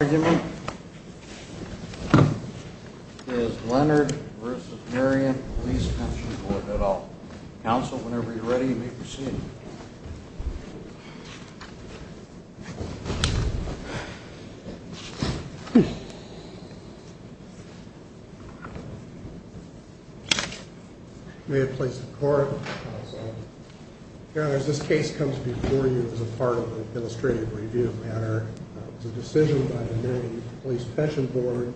Argument is Leonard v. Marion Police Pension Board. I'll counsel whenever you're ready. You may proceed. May it please the Court, Your Honor, as this case comes before you as a part of an illustrative review matter, it was a decision by the Marion Police Pension Board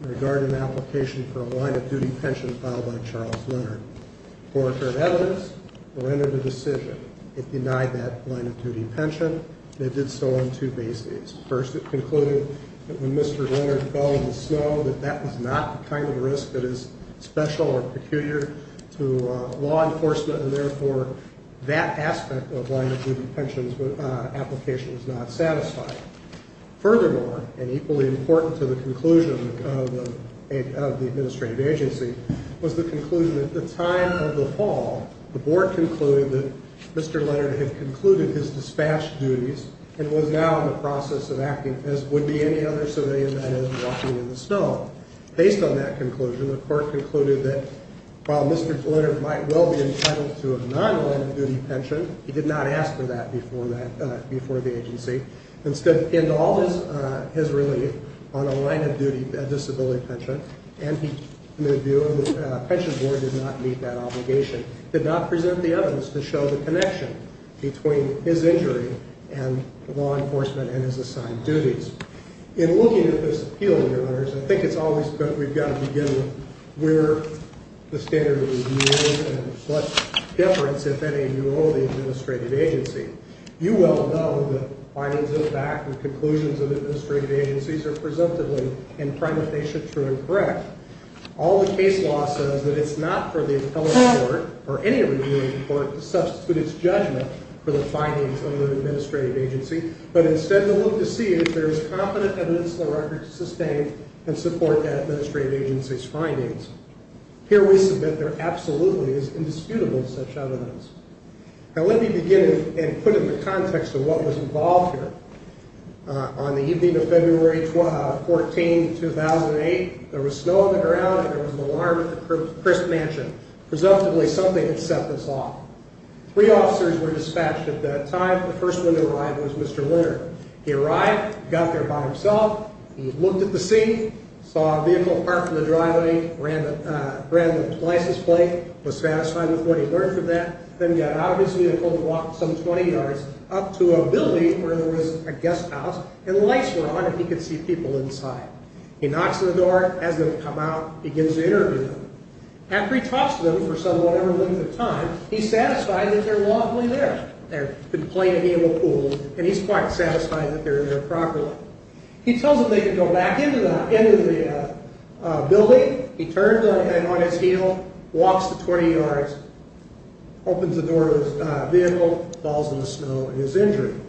in regard to an application for a line of duty pension filed by Charles Leonard. Before it heard evidence, it rendered a decision. It denied that line of duty pension, and it did so on two bases. First, it concluded that when Mr. Leonard fell in the snow, that that was not the kind of risk that is special or peculiar to law enforcement, and therefore that aspect of line of duty pension application was not satisfied. Furthermore, and equally important to the conclusion of the administrative agency, was the conclusion that at the time of the fall, the Board concluded that Mr. Leonard had concluded his dispatch duties and was now in the process of acting as would be any other civilian that has been walking in the snow. Based on that conclusion, the Court concluded that while Mr. Leonard might well be entitled to a non-line of duty pension, he did not ask for that before the agency. Instead, he pinned all his relief on a line of duty disability pension, and the pension board did not meet that obligation. It did not present the evidence to show the connection between his injury and law enforcement and his assigned duties. In looking at this appeal, Your Honors, I think it's always good we've got to begin with where the standard of review is and what deference, if any, do you owe the administrative agency. You well know that findings of fact and conclusions of administrative agencies are presumptively in prime if they show true and correct. All the case law says that it's not for the appellate court or any reviewing court to substitute its judgment for the findings of an administrative agency, but instead to look to see if there is competent evidence in the record to sustain and support that administrative agency's findings. Here we submit there absolutely is indisputable such evidence. Now let me begin and put in the context of what was involved here. On the evening of February 14, 2008, there was snow on the ground and there was an alarm at the Crisp Mansion. Presumptively, something had set this off. Three officers were dispatched at that time. The first one to arrive was Mr. Linter. He arrived, got there by himself, he looked at the scene, saw a vehicle parked in the driveway, ran the license plate, was satisfied with what he learned from that, then got out of his vehicle and walked some 20 yards up to a building where there was a guest house and lights were on and he could see people inside. He knocks on the door, has them come out, begins to interview them. After he talks to them for some whatever length of time, he's satisfied that they're lawfully there. They've been playing in the pool and he's quite satisfied that they're there properly. He tells them they can go back into the building. He turns on his heel, walks the 20 yards, opens the door of his vehicle, falls in the snow and is injured.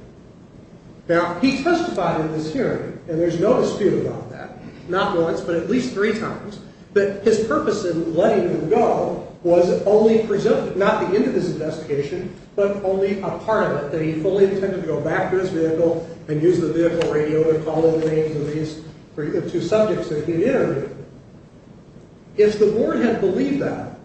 Now, he testified in this hearing and there's no dispute about that. Not once but at least three times that his purpose in letting them go was only presumed, not the end of his investigation but only a part of it, that he fully intended to go back to his vehicle and use the vehicle radio to call in the names of these two subjects that he interviewed. If the board had believed that,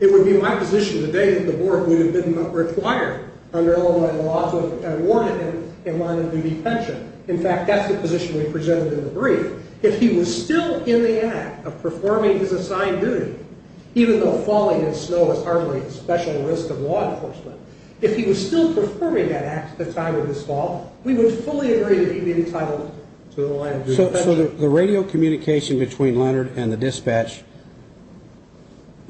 it would be my position today that the board would have been required under Illinois law to have awarded him and wanted him to be pensioned. In fact, that's the position we presented in the brief. If he was still in the act of performing his assigned duty, even though falling in snow is hardly a special risk of law enforcement, if he was still performing that act at the time of his fall, we would fully agree that he'd be entitled to the line of duty. So the radio communication between Leonard and the dispatch,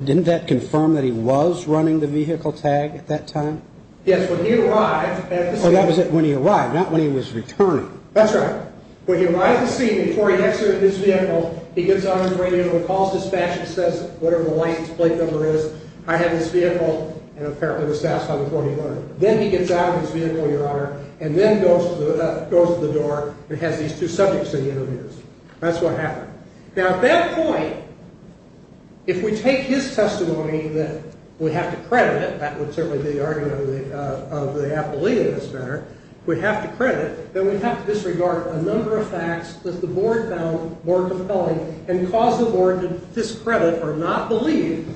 didn't that confirm that he was running the vehicle tag at that time? Yes, when he arrived at the scene. So that was when he arrived, not when he was returning. That's right. When he arrived at the scene and before he exited his vehicle, he gets on his radio and calls dispatch and says whatever the license plate number is, I have this vehicle, and apparently the staff's on the phone with Leonard. Then he gets out of his vehicle, Your Honor, and then goes to the door and has these two subjects that he interviews. That's what happened. Now at that point, if we take his testimony that we have to credit it, that would certainly be the argument of the appellee in this matter, we have to credit that we have to disregard a number of facts that the board found more compelling and cause the board to discredit or not believe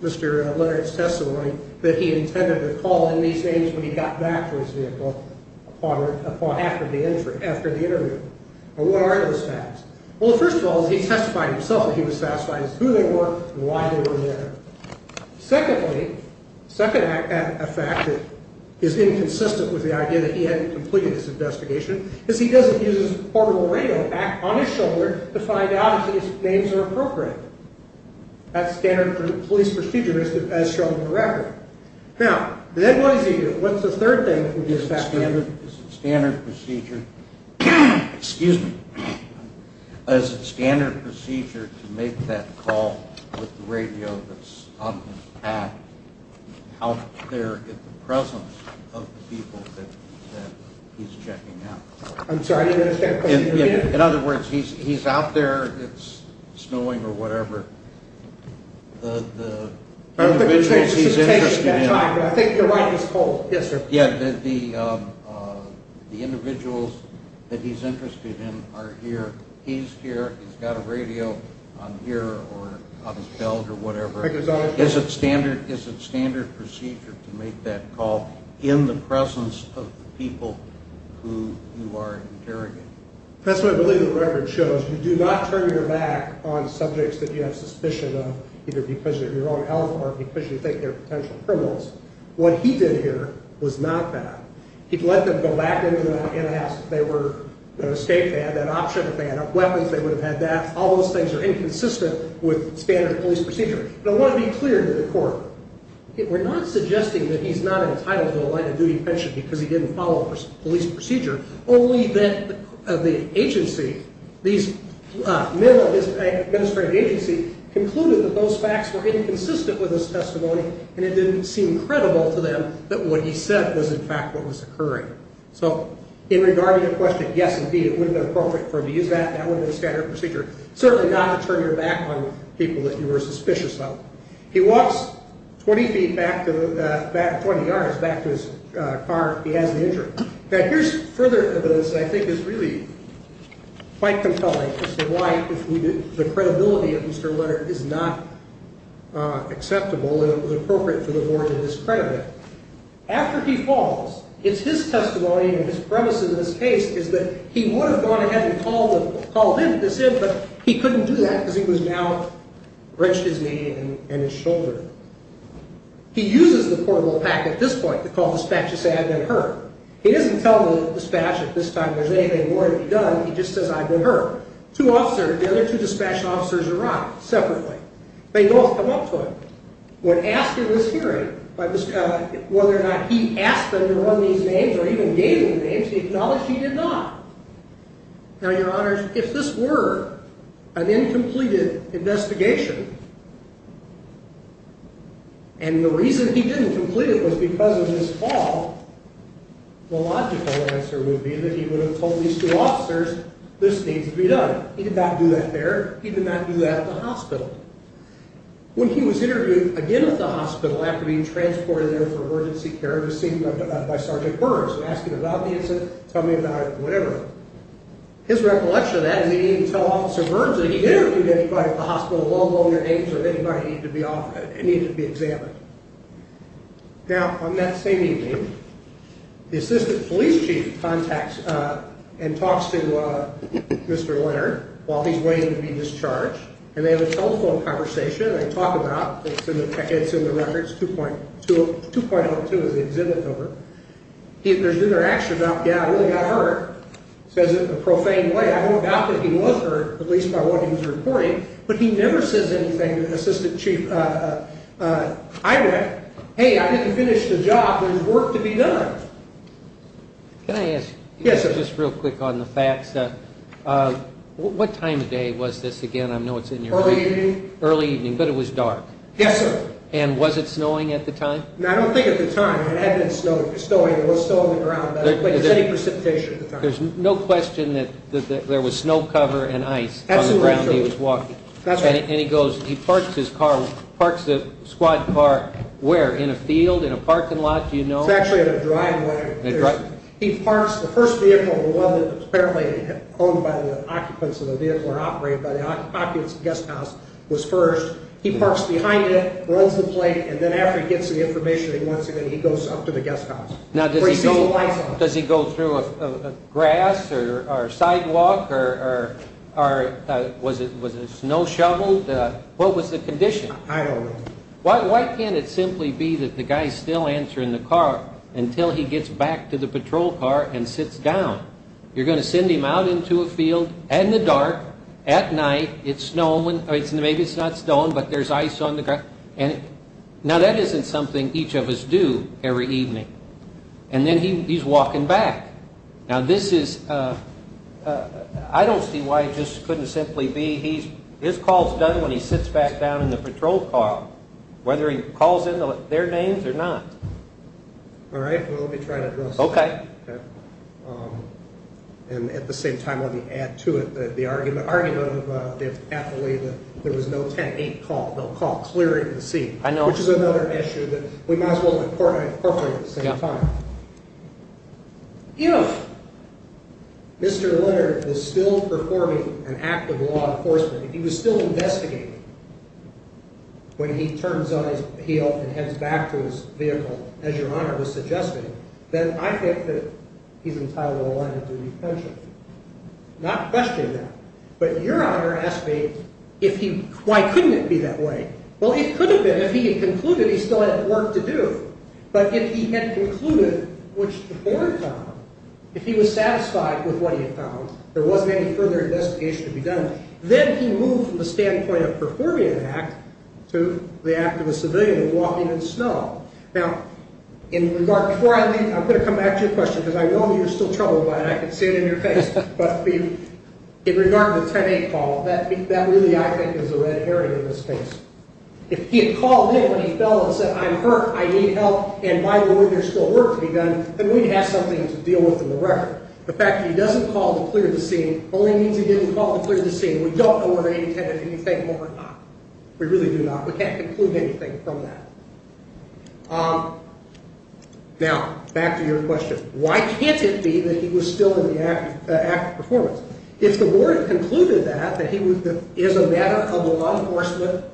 Mr. Leonard's testimony that he intended to call in these names when he got back to his vehicle after the interview. What are those facts? Well, first of all, he testified himself that he was satisfied as to who they were and why they were there. Secondly, a fact that is inconsistent with the idea that he hadn't completed his investigation is he doesn't use his portable radio back on his shoulder to find out if his names are appropriate. That's standard police procedure as shown in the record. Now, then what does he do? What's the third thing? Is it standard procedure to make that call with the radio that's on his back out there in the presence of the people that he's checking out? I'm sorry, I didn't understand the question. In other words, he's out there, it's snowing or whatever, the individuals he's interested in. I think you're right, it's cold. Yes, sir. Yeah, the individuals that he's interested in are here, he's here, he's got a radio on here or on his belt or whatever. Is it standard procedure to make that call in the presence of the people who you are interrogating? That's what I believe the record shows. You do not turn your back on subjects that you have suspicion of because you think they're potential criminals. What he did here was not that. He let them go back into the house. If they were an escape van, that option, if they had enough weapons, they would have had that. All those things are inconsistent with standard police procedure. I want to be clear to the court. We're not suggesting that he's not entitled to a light of duty pension because he didn't follow police procedure, only that the agency, these men of his administrative agency, concluded that those facts were inconsistent with his testimony and it didn't seem credible to them that what he said was, in fact, what was occurring. So in regard to your question, yes, indeed, it would have been appropriate for him to use that. That would have been standard procedure. Certainly not to turn your back on people that you were suspicious of. He walks 20 yards back to his car. He has the injury. Now, here's further evidence that I think is really quite compelling as to why the credibility of Mr. Leonard is not acceptable and it was appropriate for the board to discredit him. After he falls, it's his testimony and his premise in this case is that he would have gone ahead and called this in, but he couldn't do that because he was now wrenched his knee and his shoulder. He uses the portable packet at this point to call dispatch to say, I've been hurt. He doesn't tell the dispatch that this time there's anything more to be done. He just says, I've been hurt. The other two dispatch officers arrive separately. They both come up to him. When asked in this hearing whether or not he asked them to run these names or even gave them names, he acknowledged he did not. Now, Your Honors, if this were an incompleted investigation and the reason he didn't complete it was because of his fall, the logical answer would be that he would have told these two officers this needs to be done. He did not do that there. He did not do that at the hospital. When he was interviewed again at the hospital after being transported there for emergency care to be seen by Sergeant Burr, tell me about it, whatever. His recollection of that is he didn't even tell Officer Burr that he interviewed anybody at the hospital, let alone the names of anybody that needed to be examined. Now, on that same evening, the assistant police chief contacts and talks to Mr. Leonard while he's waiting to be discharged, and they have a telephone conversation. They talk about, it's in the records, 2.02 is the exhibit number. There's interaction about, yeah, I really got hurt. He says it in a profane way. I don't doubt that he was hurt, at least by what he was reporting, but he never says anything to the assistant chief. I went, hey, I didn't finish the job. There's work to be done. Can I ask you just real quick on the facts? What time of day was this again? I know it's in your record. Early evening. Early evening, but it was dark. Yes, sir. And was it snowing at the time? I don't think at the time. It had been snowing. It was still on the ground, but it was precipitation at the time. There's no question that there was snow cover and ice on the ground he was walking. Absolutely true. That's right. And he goes, he parks his car, parks the squad car where? In a field, in a parking lot, do you know? It's actually in a driveway. In a driveway. He parks the first vehicle, the one that was apparently owned by the occupants of the vehicle or operated by the occupants of the guest house, was first. He parks behind it, rolls the plate, and then after he gets the information that he wants in it, he goes up to the guest house where he sees the lights on. Now, does he go through a grass or sidewalk or was it snow shoveled? What was the condition? I don't know. Why can't it simply be that the guy's still answering the car until he gets back to the patrol car and sits down? You're going to send him out into a field in the dark at night. It's snowing. Maybe it's not snowing, but there's ice on the ground. Now, that isn't something each of us do every evening. And then he's walking back. Now, this is – I don't see why it just couldn't simply be his call is done when he sits back down in the patrol car, whether he calls in their names or not. Well, let me try to address that. Okay. And at the same time, let me add to it the argument of the athlete that there was no 10-8 call, no call. It's clear as the sea. I know. Which is another issue that we might as well incorporate at the same time. You know, Mr. Leonard is still performing an act of law enforcement. If he was still investigating when he turns on his heel and heads back to his vehicle, as Your Honor was suggesting, then I think that he's entitled to a line of due repentance. Not questioning that. But Your Honor asked me, why couldn't it be that way? Well, it could have been. If he had concluded, he still had work to do. But if he had concluded, which the board found, if he was satisfied with what he had found, there wasn't any further investigation to be done, then he moved from the standpoint of performing an act to the act of a civilian walking in snow. Now, before I leave, I'm going to come back to your question, because I know you're still troubled by it. I can see it in your face. But in regard to the 10-8 call, that really, I think, is a red herring in this case. If he had called in when he fell and said, I'm hurt, I need help, and by the way, there's still work to be done, then we'd have something to deal with in the record. The fact that he doesn't call to clear the scene only means he didn't call to clear the scene. We don't know whether he intended anything more or not. We really do not. We can't conclude anything from that. Now, back to your question. Why can't it be that he was still in the act of performance? If the board had concluded that, that he was a matter of law enforcement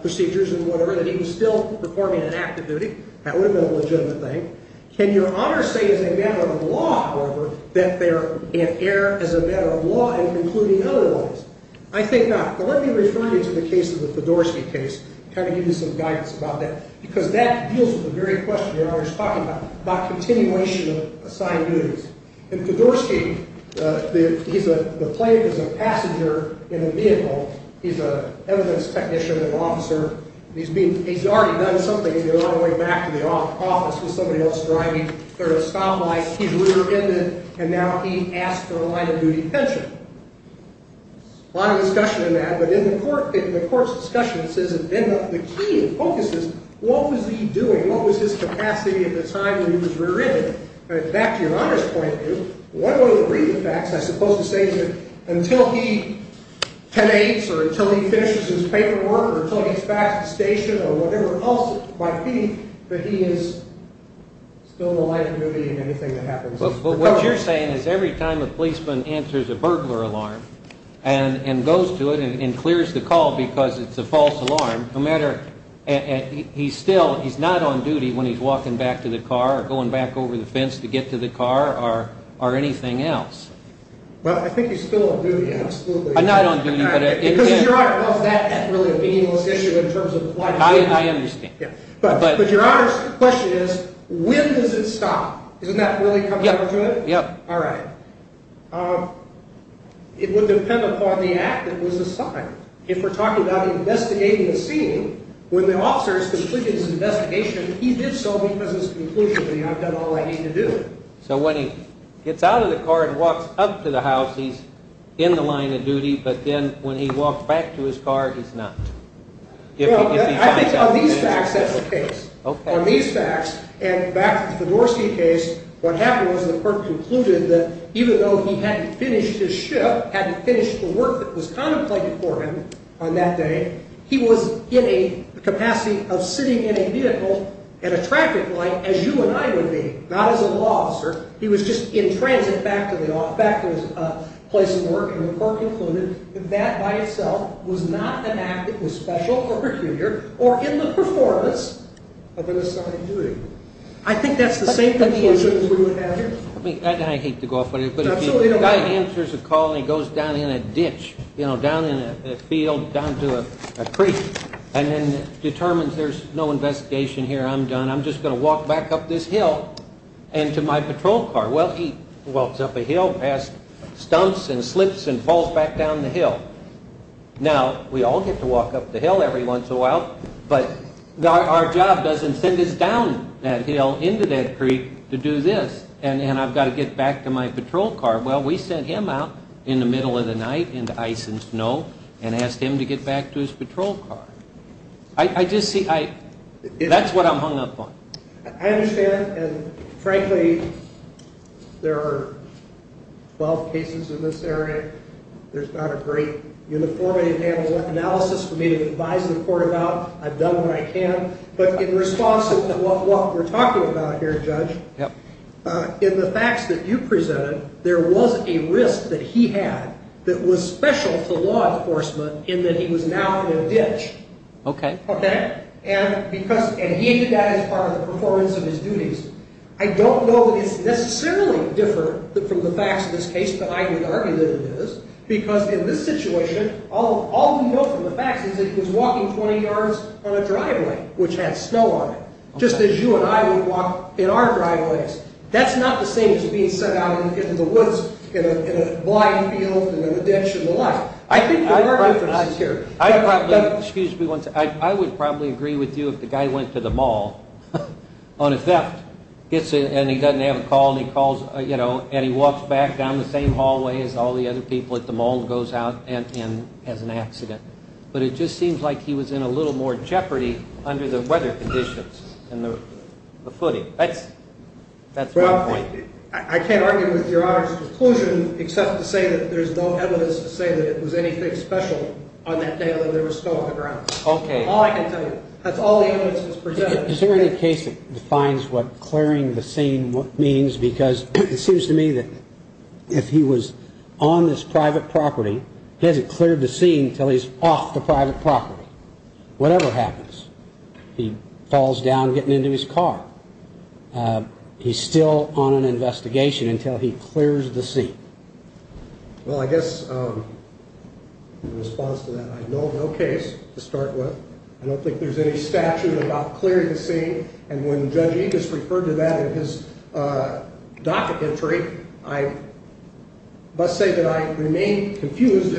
procedures and whatever, that he was still performing an act of duty, that would have been a legitimate thing. Can your Honor say as a matter of law, however, that they're in error as a matter of law in concluding otherwise? I think not. But let me refer you to the case of the Podorsky case, kind of give you some guidance about that, because that deals with the very question your Honor is talking about, about continuation of assigned duties. In Podorsky, the plaintiff is a passenger in a vehicle. He's an evidence technician, an officer, and he's already done something on the way back to the office with somebody else driving. There's a stoplight, he's rear-ended, and now he asks for a line of duty pension. A lot of discussion in that, but in the court's discussion, it says that then the key focuses, what was he doing? What was his capacity at the time when he was rear-ended? And back to your Honor's point, what are the brief facts? I suppose to say that until he penates or until he finishes his paperwork or until he's back at the station or whatever else it might be, that he is still in a line of duty in anything that happens. But what you're saying is every time a policeman answers a burglar alarm and goes to it and clears the call because it's a false alarm, no matter, he's still, he's not on duty when he's walking back to the car or going back over the fence to get to the car or anything else. Well, I think he's still on duty, absolutely. Not on duty, but it is. Because your Honor, well, is that really a meaningless issue in terms of the plaintiff? I understand. But your Honor's question is, when does it stop? Doesn't that really come down to it? Yeah. All right. It would depend upon the act that was assigned. If we're talking about investigating a scene, when the officer has completed his investigation, he did so because his conclusion would be, I've done all I need to do. So when he gets out of the car and walks up to the house, he's in the line of duty, but then when he walks back to his car, he's not. Well, I think on these facts that's the case. On these facts, and back to the Fedorsky case, what happened was the clerk concluded that even though he hadn't finished his shift, hadn't finished the work that was contemplated for him on that day, he was in a capacity of sitting in a vehicle at a traffic light as you and I would be, not as a law officer. He was just in transit back to the office, back to his place of work, and the clerk concluded that that by itself was not an act that was special or peculiar or in the performance of an assigned duty. I think that's the same conclusion as we would have here. I hate to go off on it, but if a guy answers a call and he goes down in a ditch, down in a field, down to a creek, and then determines there's no investigation here, I'm done, I'm just going to walk back up this hill and to my patrol car. Well, he walks up a hill, passed stumps and slips, and falls back down the hill. Now, we all get to walk up the hill every once in a while, but our job doesn't send us down that hill into that creek to do this, and I've got to get back to my patrol car. Well, we sent him out in the middle of the night into ice and snow and asked him to get back to his patrol car. That's what I'm hung up on. I understand, and frankly, there are 12 cases in this area. There's not a great uniform analysis for me to advise the court about. I've done what I can, but in response to what we're talking about here, Judge, in the facts that you presented, there was a risk that he had that was special to law enforcement in that he was now in a ditch, and he did that as part of the performance of his duties. I don't know that it's necessarily different from the facts of this case, and I would argue that it is, because in this situation, all we know from the facts is that he was walking 20 yards on a driveway which had snow on it, just as you and I would walk in our driveways. That's not the same as being sent out into the woods in a blind field in a ditch and the like. I think there are differences here. Excuse me one second. I would probably agree with you if the guy went to the mall on a theft and he doesn't have a call and he walks back down the same hallway as all the other people at the mall and goes out and has an accident, but it just seems like he was in a little more jeopardy under the weather conditions and the footing. That's my point. I can't argue with Your Honor's conclusion except to say that there's no evidence to say that it was anything special on that day that there was snow on the ground. All I can tell you, that's all the evidence that's presented. Is there any case that defines what clearing the scene means? Because it seems to me that if he was on this private property, he hasn't cleared the scene until he's off the private property. Whatever happens, he falls down getting into his car. He's still on an investigation until he clears the scene. Well, I guess in response to that, I have no case to start with. I don't think there's any statute about clearing the scene, and when Judge Enos referred to that in his docket entry, I must say that I remain confused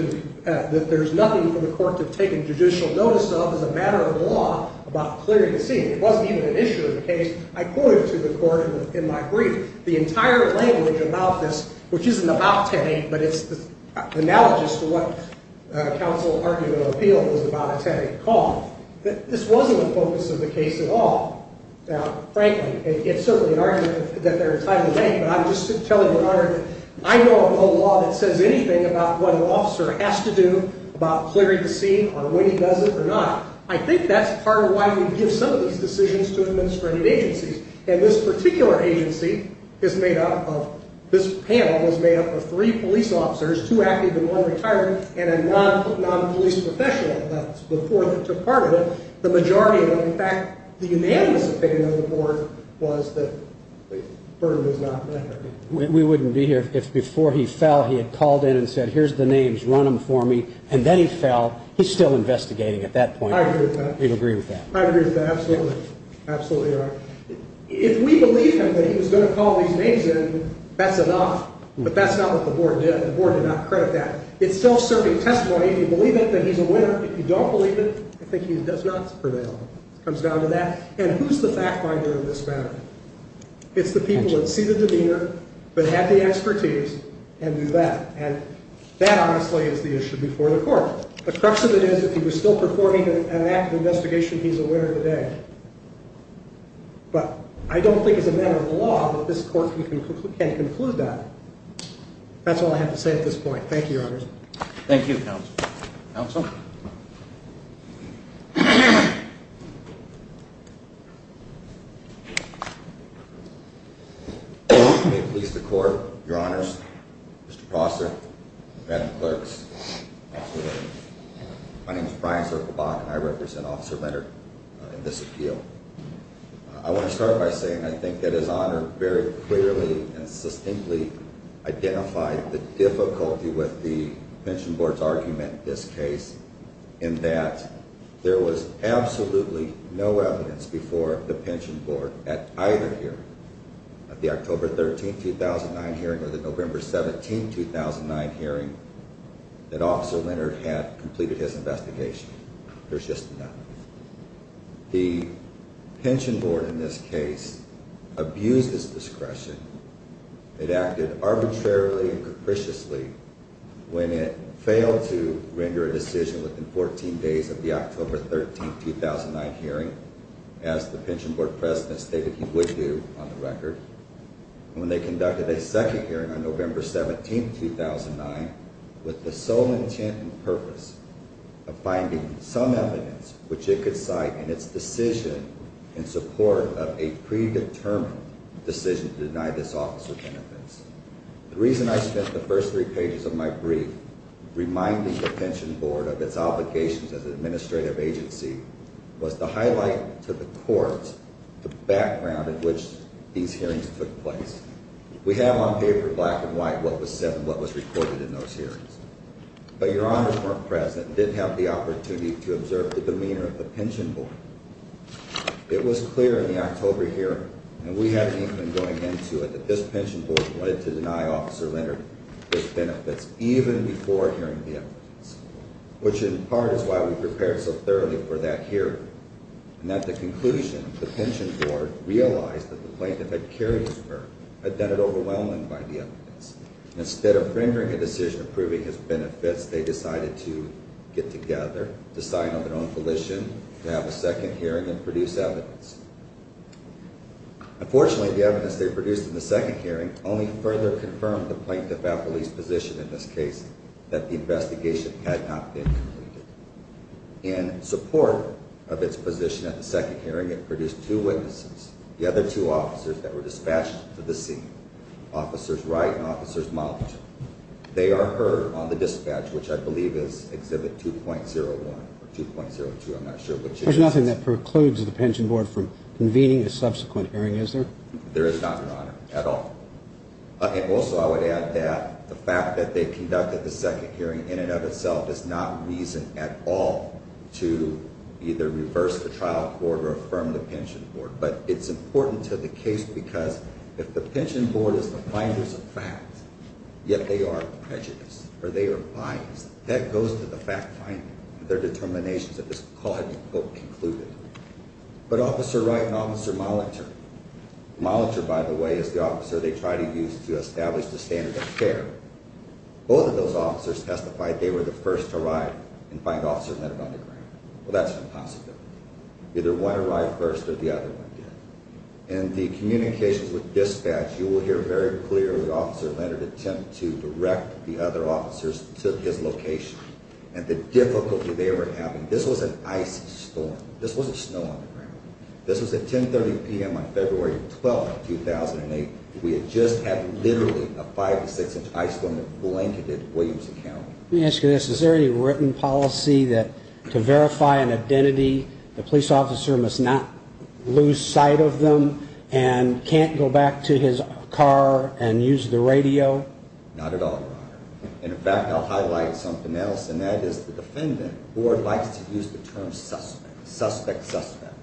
that there's nothing for the court to take a judicial notice of as a matter of law about clearing the scene. It wasn't even an issue in the case. I quoted to the court in my brief the entire language about this, which isn't about Teddy, but it's analogous to what counsel argument of appeal is about a Teddy call. This wasn't the focus of the case at all. Now, frankly, it's certainly an argument that there's time to think, but I'm just telling you, Your Honor, that I know of no law that says anything about what an officer has to do about clearing the scene or when he does it or not. I think that's part of why we give some of these decisions to administrative agencies, and this particular agency is made up of, this panel is made up of three police officers, two active and one retired, and a non-police professional. That's before they took part of it. The majority of it, in fact, the unanimous opinion of the board was that the burden was not met. We wouldn't be here if before he fell he had called in and said, here's the names, run them for me, and then he fell. He's still investigating at that point. I agree with that. You'd agree with that? I agree with that, absolutely. Absolutely, Your Honor. If we believe him that he was going to call these names in, that's enough, but that's not what the board did. The board did not credit that. It's self-serving testimony. If you believe it, then he's a winner. If you don't believe it, I think he does not prevail. It comes down to that. And who's the fact finder in this matter? It's the people that see the demeanor but have the expertise and do that, and that honestly is the issue before the court. The crux of it is if he was still performing an active investigation, he's a winner today. But I don't think it's a matter of law that this court can conclude that. That's all I have to say at this point. Thank you, Your Honors. Thank you, Counsel. Counsel? May it please the Court, Your Honors, Mr. Prosser, Madam Clerks, my name is Brian Zirkelbach, and I represent Officer Leonard in this appeal. I want to start by saying I think that His Honor very clearly and succinctly identified the difficulty with the Pension Board's argument in this case in that there was absolutely no evidence before the Pension Board at either hearing, at the October 13, 2009 hearing or the November 17, 2009 hearing, that Officer Leonard had completed his investigation. There's just none. The Pension Board in this case abused its discretion. It acted arbitrarily and capriciously when it failed to render a decision within 14 days of the October 13, 2009 hearing, as the Pension Board President stated he would do on the record, and when they conducted a second hearing on November 17, 2009 with the sole intent and purpose of finding some evidence which it could cite in its decision in support of a predetermined decision to deny this office of benefits. The reason I spent the first three pages of my brief reminding the Pension Board of its obligations as an administrative agency was to highlight to the Court the background in which these hearings took place. We have on paper, black and white, what was said and what was recorded in those hearings. But Your Honor's former President did have the opportunity to observe the demeanor of the Pension Board. It was clear in the October hearing, and we had an inkling going into it, that this Pension Board wanted to deny Officer Leonard his benefits even before hearing the evidence, which in part is why we prepared so thoroughly for that hearing and that the conclusion the Pension Board realized that the plaintiff had carried his work had done it overwhelming by the evidence. Instead of rendering a decision approving his benefits, they decided to get together to sign on their own volition to have a second hearing and produce evidence. Unfortunately, the evidence they produced in the second hearing only further confirmed the plaintiff at police position in this case that the investigation had not been completed. In support of its position at the second hearing, it produced two witnesses. The other two officers that were dispatched to the scene, Officers Wright and Officers Mott. They are heard on the dispatch, which I believe is Exhibit 2.01 or 2.02. I'm not sure which it is. There's nothing that precludes the Pension Board from convening a subsequent hearing, is there? There is not, Your Honor, at all. And also I would add that the fact that they conducted the second hearing in and of itself is not reason at all to either reverse the trial court or affirm the Pension Board. But it's important to the case because if the Pension Board is the finders of facts, yet they are prejudiced or they are biased, that goes to the fact-finding of their determinations that this call had been, quote, concluded. But Officer Wright and Officer Molitor, Molitor, by the way, is the officer they tried to use to establish the standard of care. Both of those officers testified they were the first to arrive and find Officer Meadow on the ground. Well, that's impossible. Either one arrived first or the other one did. In the communications with dispatch, you will hear very clearly Officer Leonard attempt to direct the other officers to his location and the difficulty they were having. This was an ice storm. This wasn't snow on the ground. This was at 10.30 p.m. on February 12, 2008. We had just had literally a five- to six-inch ice storm that blanketed Williamson County. Let me ask you this. Is there any written policy that to verify an identity, the police officer must not lose sight of them and can't go back to his car and use the radio? Not at all, Robert. And, in fact, I'll highlight something else, and that is the defendant board likes to use the term suspect, suspect, suspect.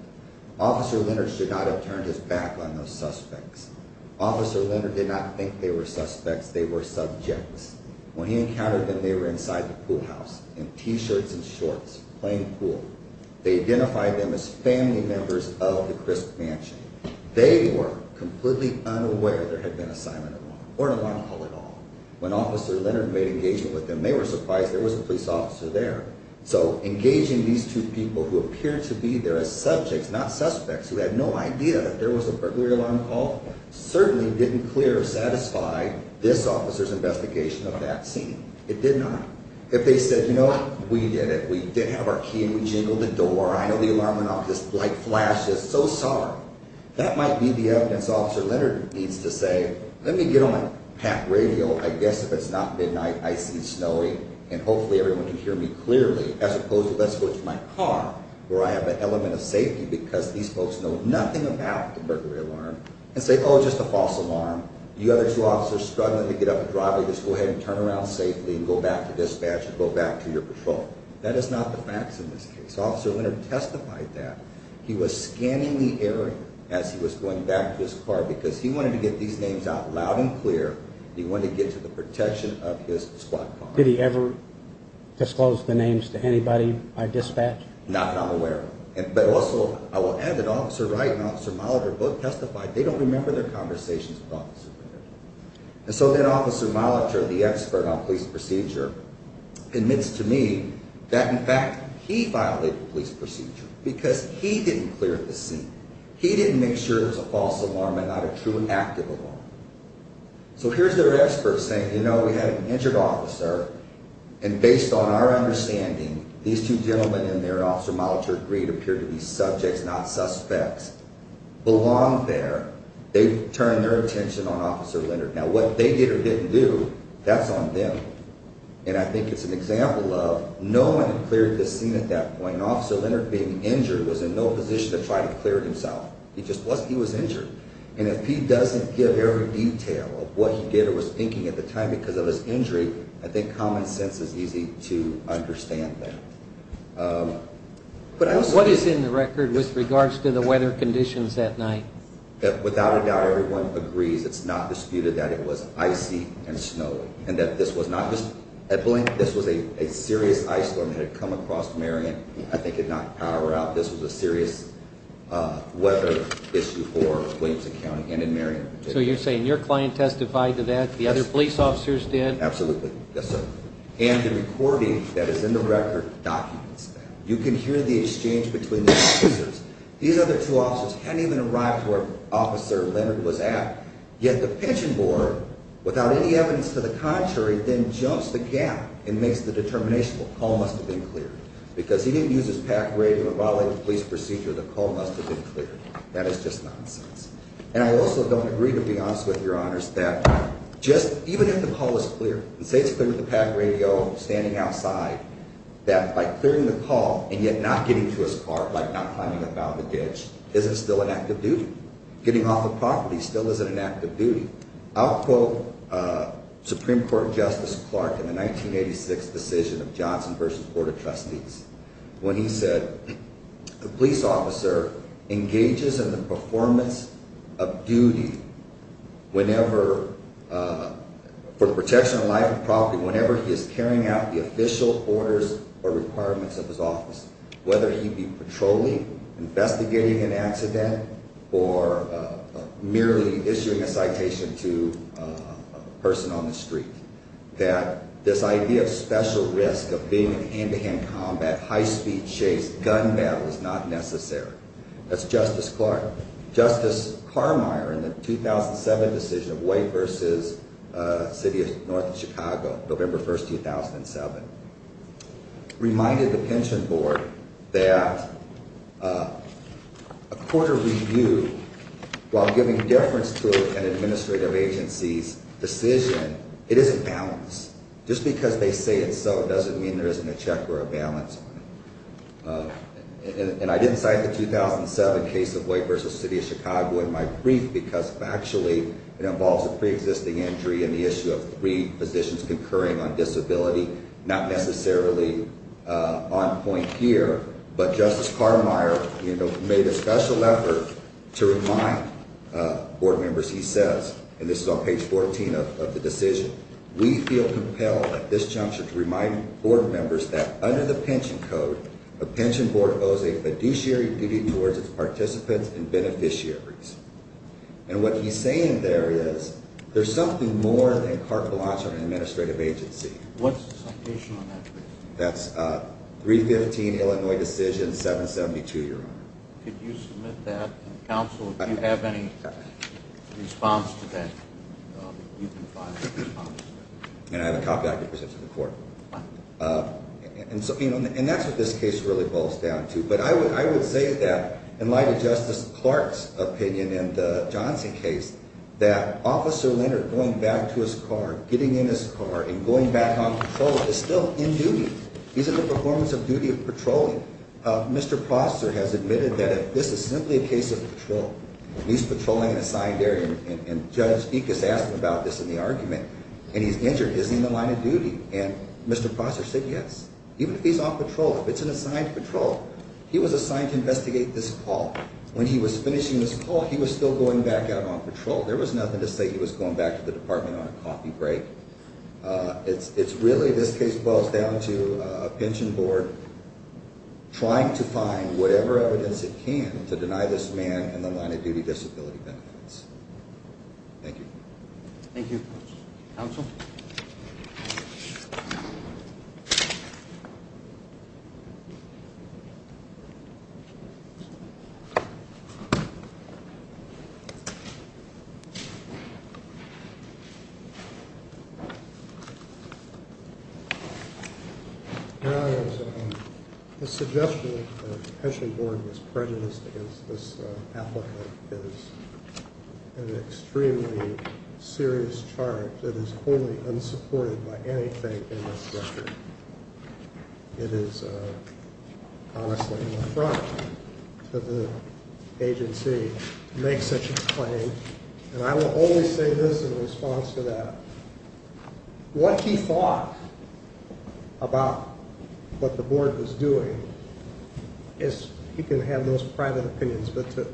Officer Leonard should not have turned his back on those suspects. Officer Leonard did not think they were suspects. They were subjects. When he encountered them, they were inside the pool house in T-shirts and shorts, playing pool. They identified them as family members of the Crisp Mansion. They were completely unaware there had been a silent alarm or an alarm call at all. When Officer Leonard made engagement with them, they were surprised there was a police officer there. So engaging these two people who appeared to be there as subjects, not suspects who had no idea that there was a burglary alarm call, certainly didn't clear or satisfy this officer's investigation of that scene. It did not. If they said, you know what, we did it. We did have our key and we jingled the door. I know the alarm went off because this light flashed us. So sorry. That might be the evidence Officer Leonard needs to say, let me get on my pack radio. I guess if it's not midnight, icy and snowy, and hopefully everyone can hear me clearly, as opposed to let's go to my car where I have an element of safety because these folks know nothing about the burglary alarm and say, oh, just a false alarm. You have two officers struggling to get up a driveway. Just go ahead and turn around safely and go back to dispatch and go back to your patrol. That is not the facts in this case. Officer Leonard testified that he was scanning the area as he was going back to his car because he wanted to get these names out loud and clear. He wanted to get to the protection of his squad car. Did he ever disclose the names to anybody by dispatch? Not that I'm aware of. But also, I will add that Officer Wright and Officer Molitor both testified they don't remember their conversations with Officer Leonard. And so then Officer Molitor, the expert on police procedure, admits to me that, in fact, he violated police procedure because he didn't clear the scene. He didn't make sure it was a false alarm and not a true and active alarm. So here's their expert saying, you know, we had an injured officer, and based on our understanding, these two gentlemen in there, Officer Molitor agreed to appear to be subjects, not suspects, belong there. They've turned their attention on Officer Leonard. Now, what they did or didn't do, that's on them. And I think it's an example of no one had cleared the scene at that point. Officer Leonard, being injured, was in no position to try to clear it himself. He just wasn't. He was injured. And if he doesn't give every detail of what he did or was thinking at the time because of his injury, I think common sense is easy to understand that. What is in the record with regards to the weather conditions that night? Without a doubt, everyone agrees. It's not disputed that it was icy and snowy and that this was not just a blink. This was a serious ice storm that had come across Marion. I think it knocked power out. This was a serious weather issue for Williamson County and in Marion. So you're saying your client testified to that, the other police officers did? Absolutely, yes, sir. And the recording that is in the record documents that. You can hear the exchange between the accusers. These other two officers hadn't even arrived to where Officer Leonard was at, yet the pension board, without any evidence to the contrary, then jumps the gap and makes the determination, well, the call must have been cleared. Because he didn't use his PAC grade for violating the police procedure, the call must have been cleared. That is just nonsense. And I also don't agree, to be honest with you, Your Honors, that just even if the call is clear, and say it's clear with the PAC radio, standing outside, that by clearing the call and yet not getting to his car, like not climbing up out of the ditch, isn't still an act of duty. Getting off the property still isn't an act of duty. I'll quote Supreme Court Justice Clark in the 1986 decision of Johnson v. Board of Trustees when he said, the police officer engages in the performance of duty for the protection of life and property whenever he is carrying out the official orders or requirements of his office, whether he be patrolling, investigating an accident, or merely issuing a citation to a person on the street. That this idea of special risk, of being in hand-to-hand combat, high-speed chase, gun battle, is not necessary. That's Justice Clark. Justice Carmeier in the 2007 decision of White v. City of North Chicago, November 1, 2007, reminded the Pension Board that a court of review, while giving deference to an administrative agency's decision, it isn't balanced. Just because they say it's so doesn't mean there isn't a check or a balance on it. And I didn't cite the 2007 case of White v. City of Chicago in my brief because, factually, it involves a pre-existing injury and the issue of three positions concurring on disability, not necessarily on point here. But Justice Carmeier made a special effort to remind board members, he says, and this is on page 14 of the decision, we feel compelled at this juncture to remind board members that under the Pension Code, a pension board owes a fiduciary duty towards its participants and beneficiaries. And what he's saying there is there's something more than carte blanche on an administrative agency. What's the citation on that? That's 315 Illinois Decision 772, Your Honor. Could you submit that, Counsel, if you have any response to that? And I have a copy I can present to the court. And that's what this case really boils down to. But I would say that, in light of Justice Clark's opinion in the Johnson case, that Officer Leonard going back to his car, getting in his car, and going back on patrol is still in duty. These are the performance of duty of patrolling. Mr. Prosser has admitted that if this is simply a case of patrol, he's patrolling an assigned area, and Judge Ekes asked him about this in the argument, and he's injured, is he in the line of duty? And Mr. Prosser said yes. Even if he's on patrol, if it's an assigned patrol, he was assigned to investigate this call. When he was finishing this call, he was still going back out on patrol. There was nothing to say he was going back to the department on a coffee break. It's really this case boils down to a pension board trying to find whatever evidence it can to deny this man in the line of duty disability benefits. Thank you. Thank you. Counsel? Your Honor, the suggestion that the pension board was prejudiced against this applicant is an extremely serious charge that is wholly unsupported by anything in this record. It is honestly an affront to the agency to make such a claim, and I will only say this in response to that. What he thought about what the board was doing is he can have those private opinions, but to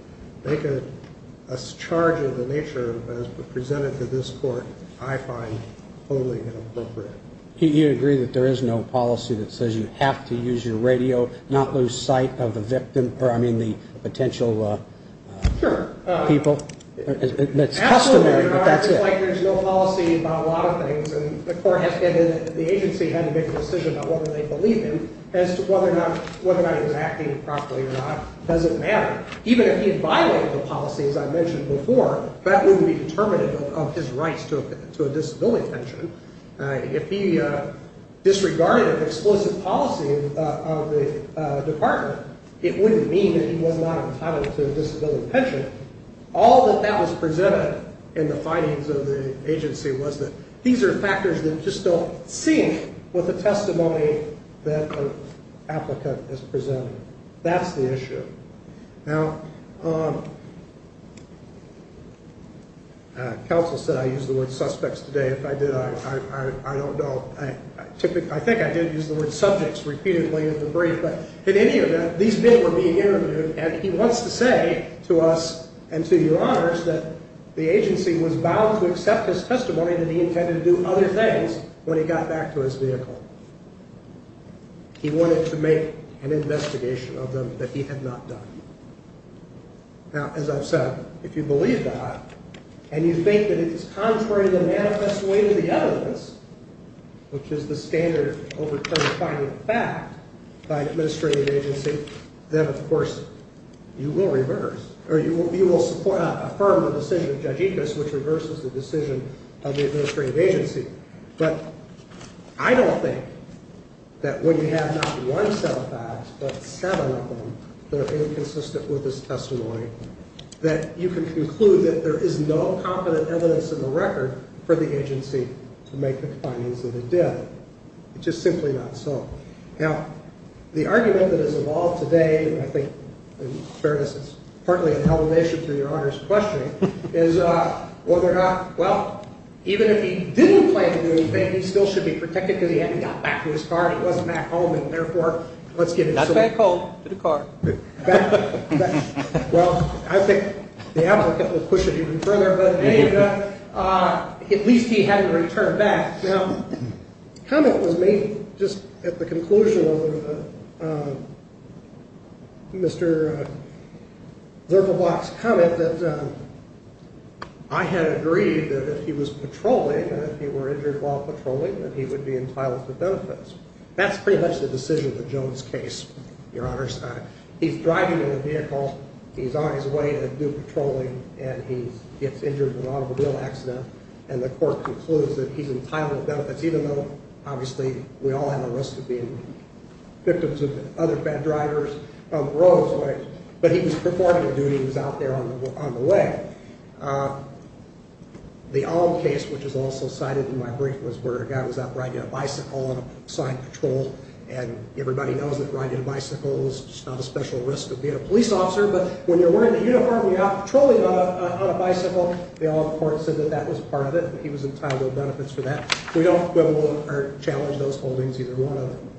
make a charge of the nature as presented to this court I find wholly inappropriate. Do you agree that there is no policy that says you have to use your radio, not lose sight of the potential people? Sure. That's customary, but that's it. Absolutely, Your Honor. It's like there's no policy about a lot of things, and the agency had to make a decision about whether they believe him as to whether or not he was acting properly or not. It doesn't matter. Even if he had violated the policy, as I mentioned before, that wouldn't be determinative of his rights to a disability pension. If he disregarded an explicit policy of the department, it wouldn't mean that he was not entitled to a disability pension. All that that was presented in the findings of the agency was that these are factors that just don't sync with the testimony that an applicant has presented. That's the issue. Now, counsel said I used the word suspects today. If I did, I don't know. I think I did use the word subjects repeatedly in the brief, but in any event, these men were being interviewed, and he wants to say to us and to you, Your Honors, that the agency was bound to accept his testimony that he intended to do other things when he got back to his vehicle. He wanted to make an investigation of them that he had not done. Now, as I've said, if you believe that and you think that it is contrary to the manifest way to the evidence, which is the standard overturned finding of fact by an administrative agency, then, of course, you will reverse, or you will support, affirm the decision of Judge Ickes, which reverses the decision of the administrative agency. But I don't think that when you have not one set of facts, but seven of them that are inconsistent with his testimony, that you can conclude that there is no confident evidence in the record for the agency to make the findings that it did. It's just simply not so. Now, the argument that has evolved today, and I think in fairness it's partly an elevation to Your Honors' question, is whether or not, well, even if he didn't plan to do anything, he still should be protected because he hadn't got back to his car and he wasn't back home, and therefore, let's get it. Not back home, to the car. Well, I think the applicant will push it even further, but in any event, at least he hadn't returned back. Now, comment was made just at the conclusion of Mr. Zirkelbach's comment that I had agreed that if he was patrolling, and if he were injured while patrolling, that he would be entitled to benefits. That's pretty much the decision of the Jones case, Your Honors. He's driving in a vehicle. He's on his way to do patrolling, and he gets injured in an automobile accident, and the court concludes that he's entitled to benefits, even though, obviously, we all have a risk of being victims of other bad drivers. But he was performing a duty. He was out there on the way. The Olm case, which is also cited in my brief, was where a guy was out riding a bicycle on a assigned patrol, and everybody knows that riding a bicycle is just not a special risk of being a police officer, but when you're wearing a uniform and you're out patrolling on a bicycle, the Olm court said that that was part of it, and he was entitled to benefits for that. We don't quibble or challenge those holdings, either one of them.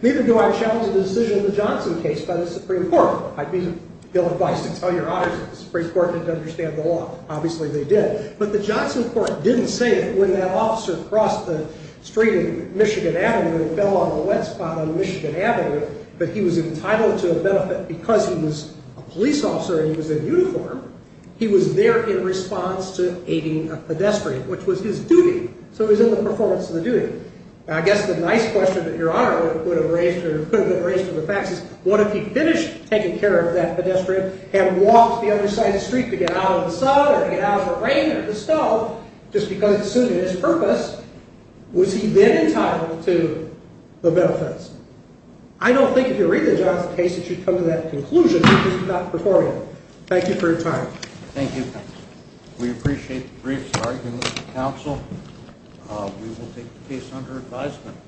Neither do I challenge the decision of the Johnson case by the Supreme Court. I'd be ill-advised to tell Your Honors that the Supreme Court didn't understand the law. Obviously, they did, but the Johnson court didn't say it When that officer crossed the street in Michigan Avenue and fell on a wet spot on Michigan Avenue, that he was entitled to a benefit because he was a police officer and he was in uniform, he was there in response to aiding a pedestrian, which was his duty. So he was in the performance of the duty. I guess the nice question that Your Honor would have raised or could have been raised to the facts is, what if he finished taking care of that pedestrian, had walked the other side of the street to get out of the sun or to get out of the rain or the snow, just because, assuming his purpose, was he then entitled to the benefits? I don't think if you read the Johnson case that you'd come to that conclusion because you're not performing it. Thank you for your time. Thank you, counsel. We appreciate the brief arguments, counsel. We will take the case under advisement.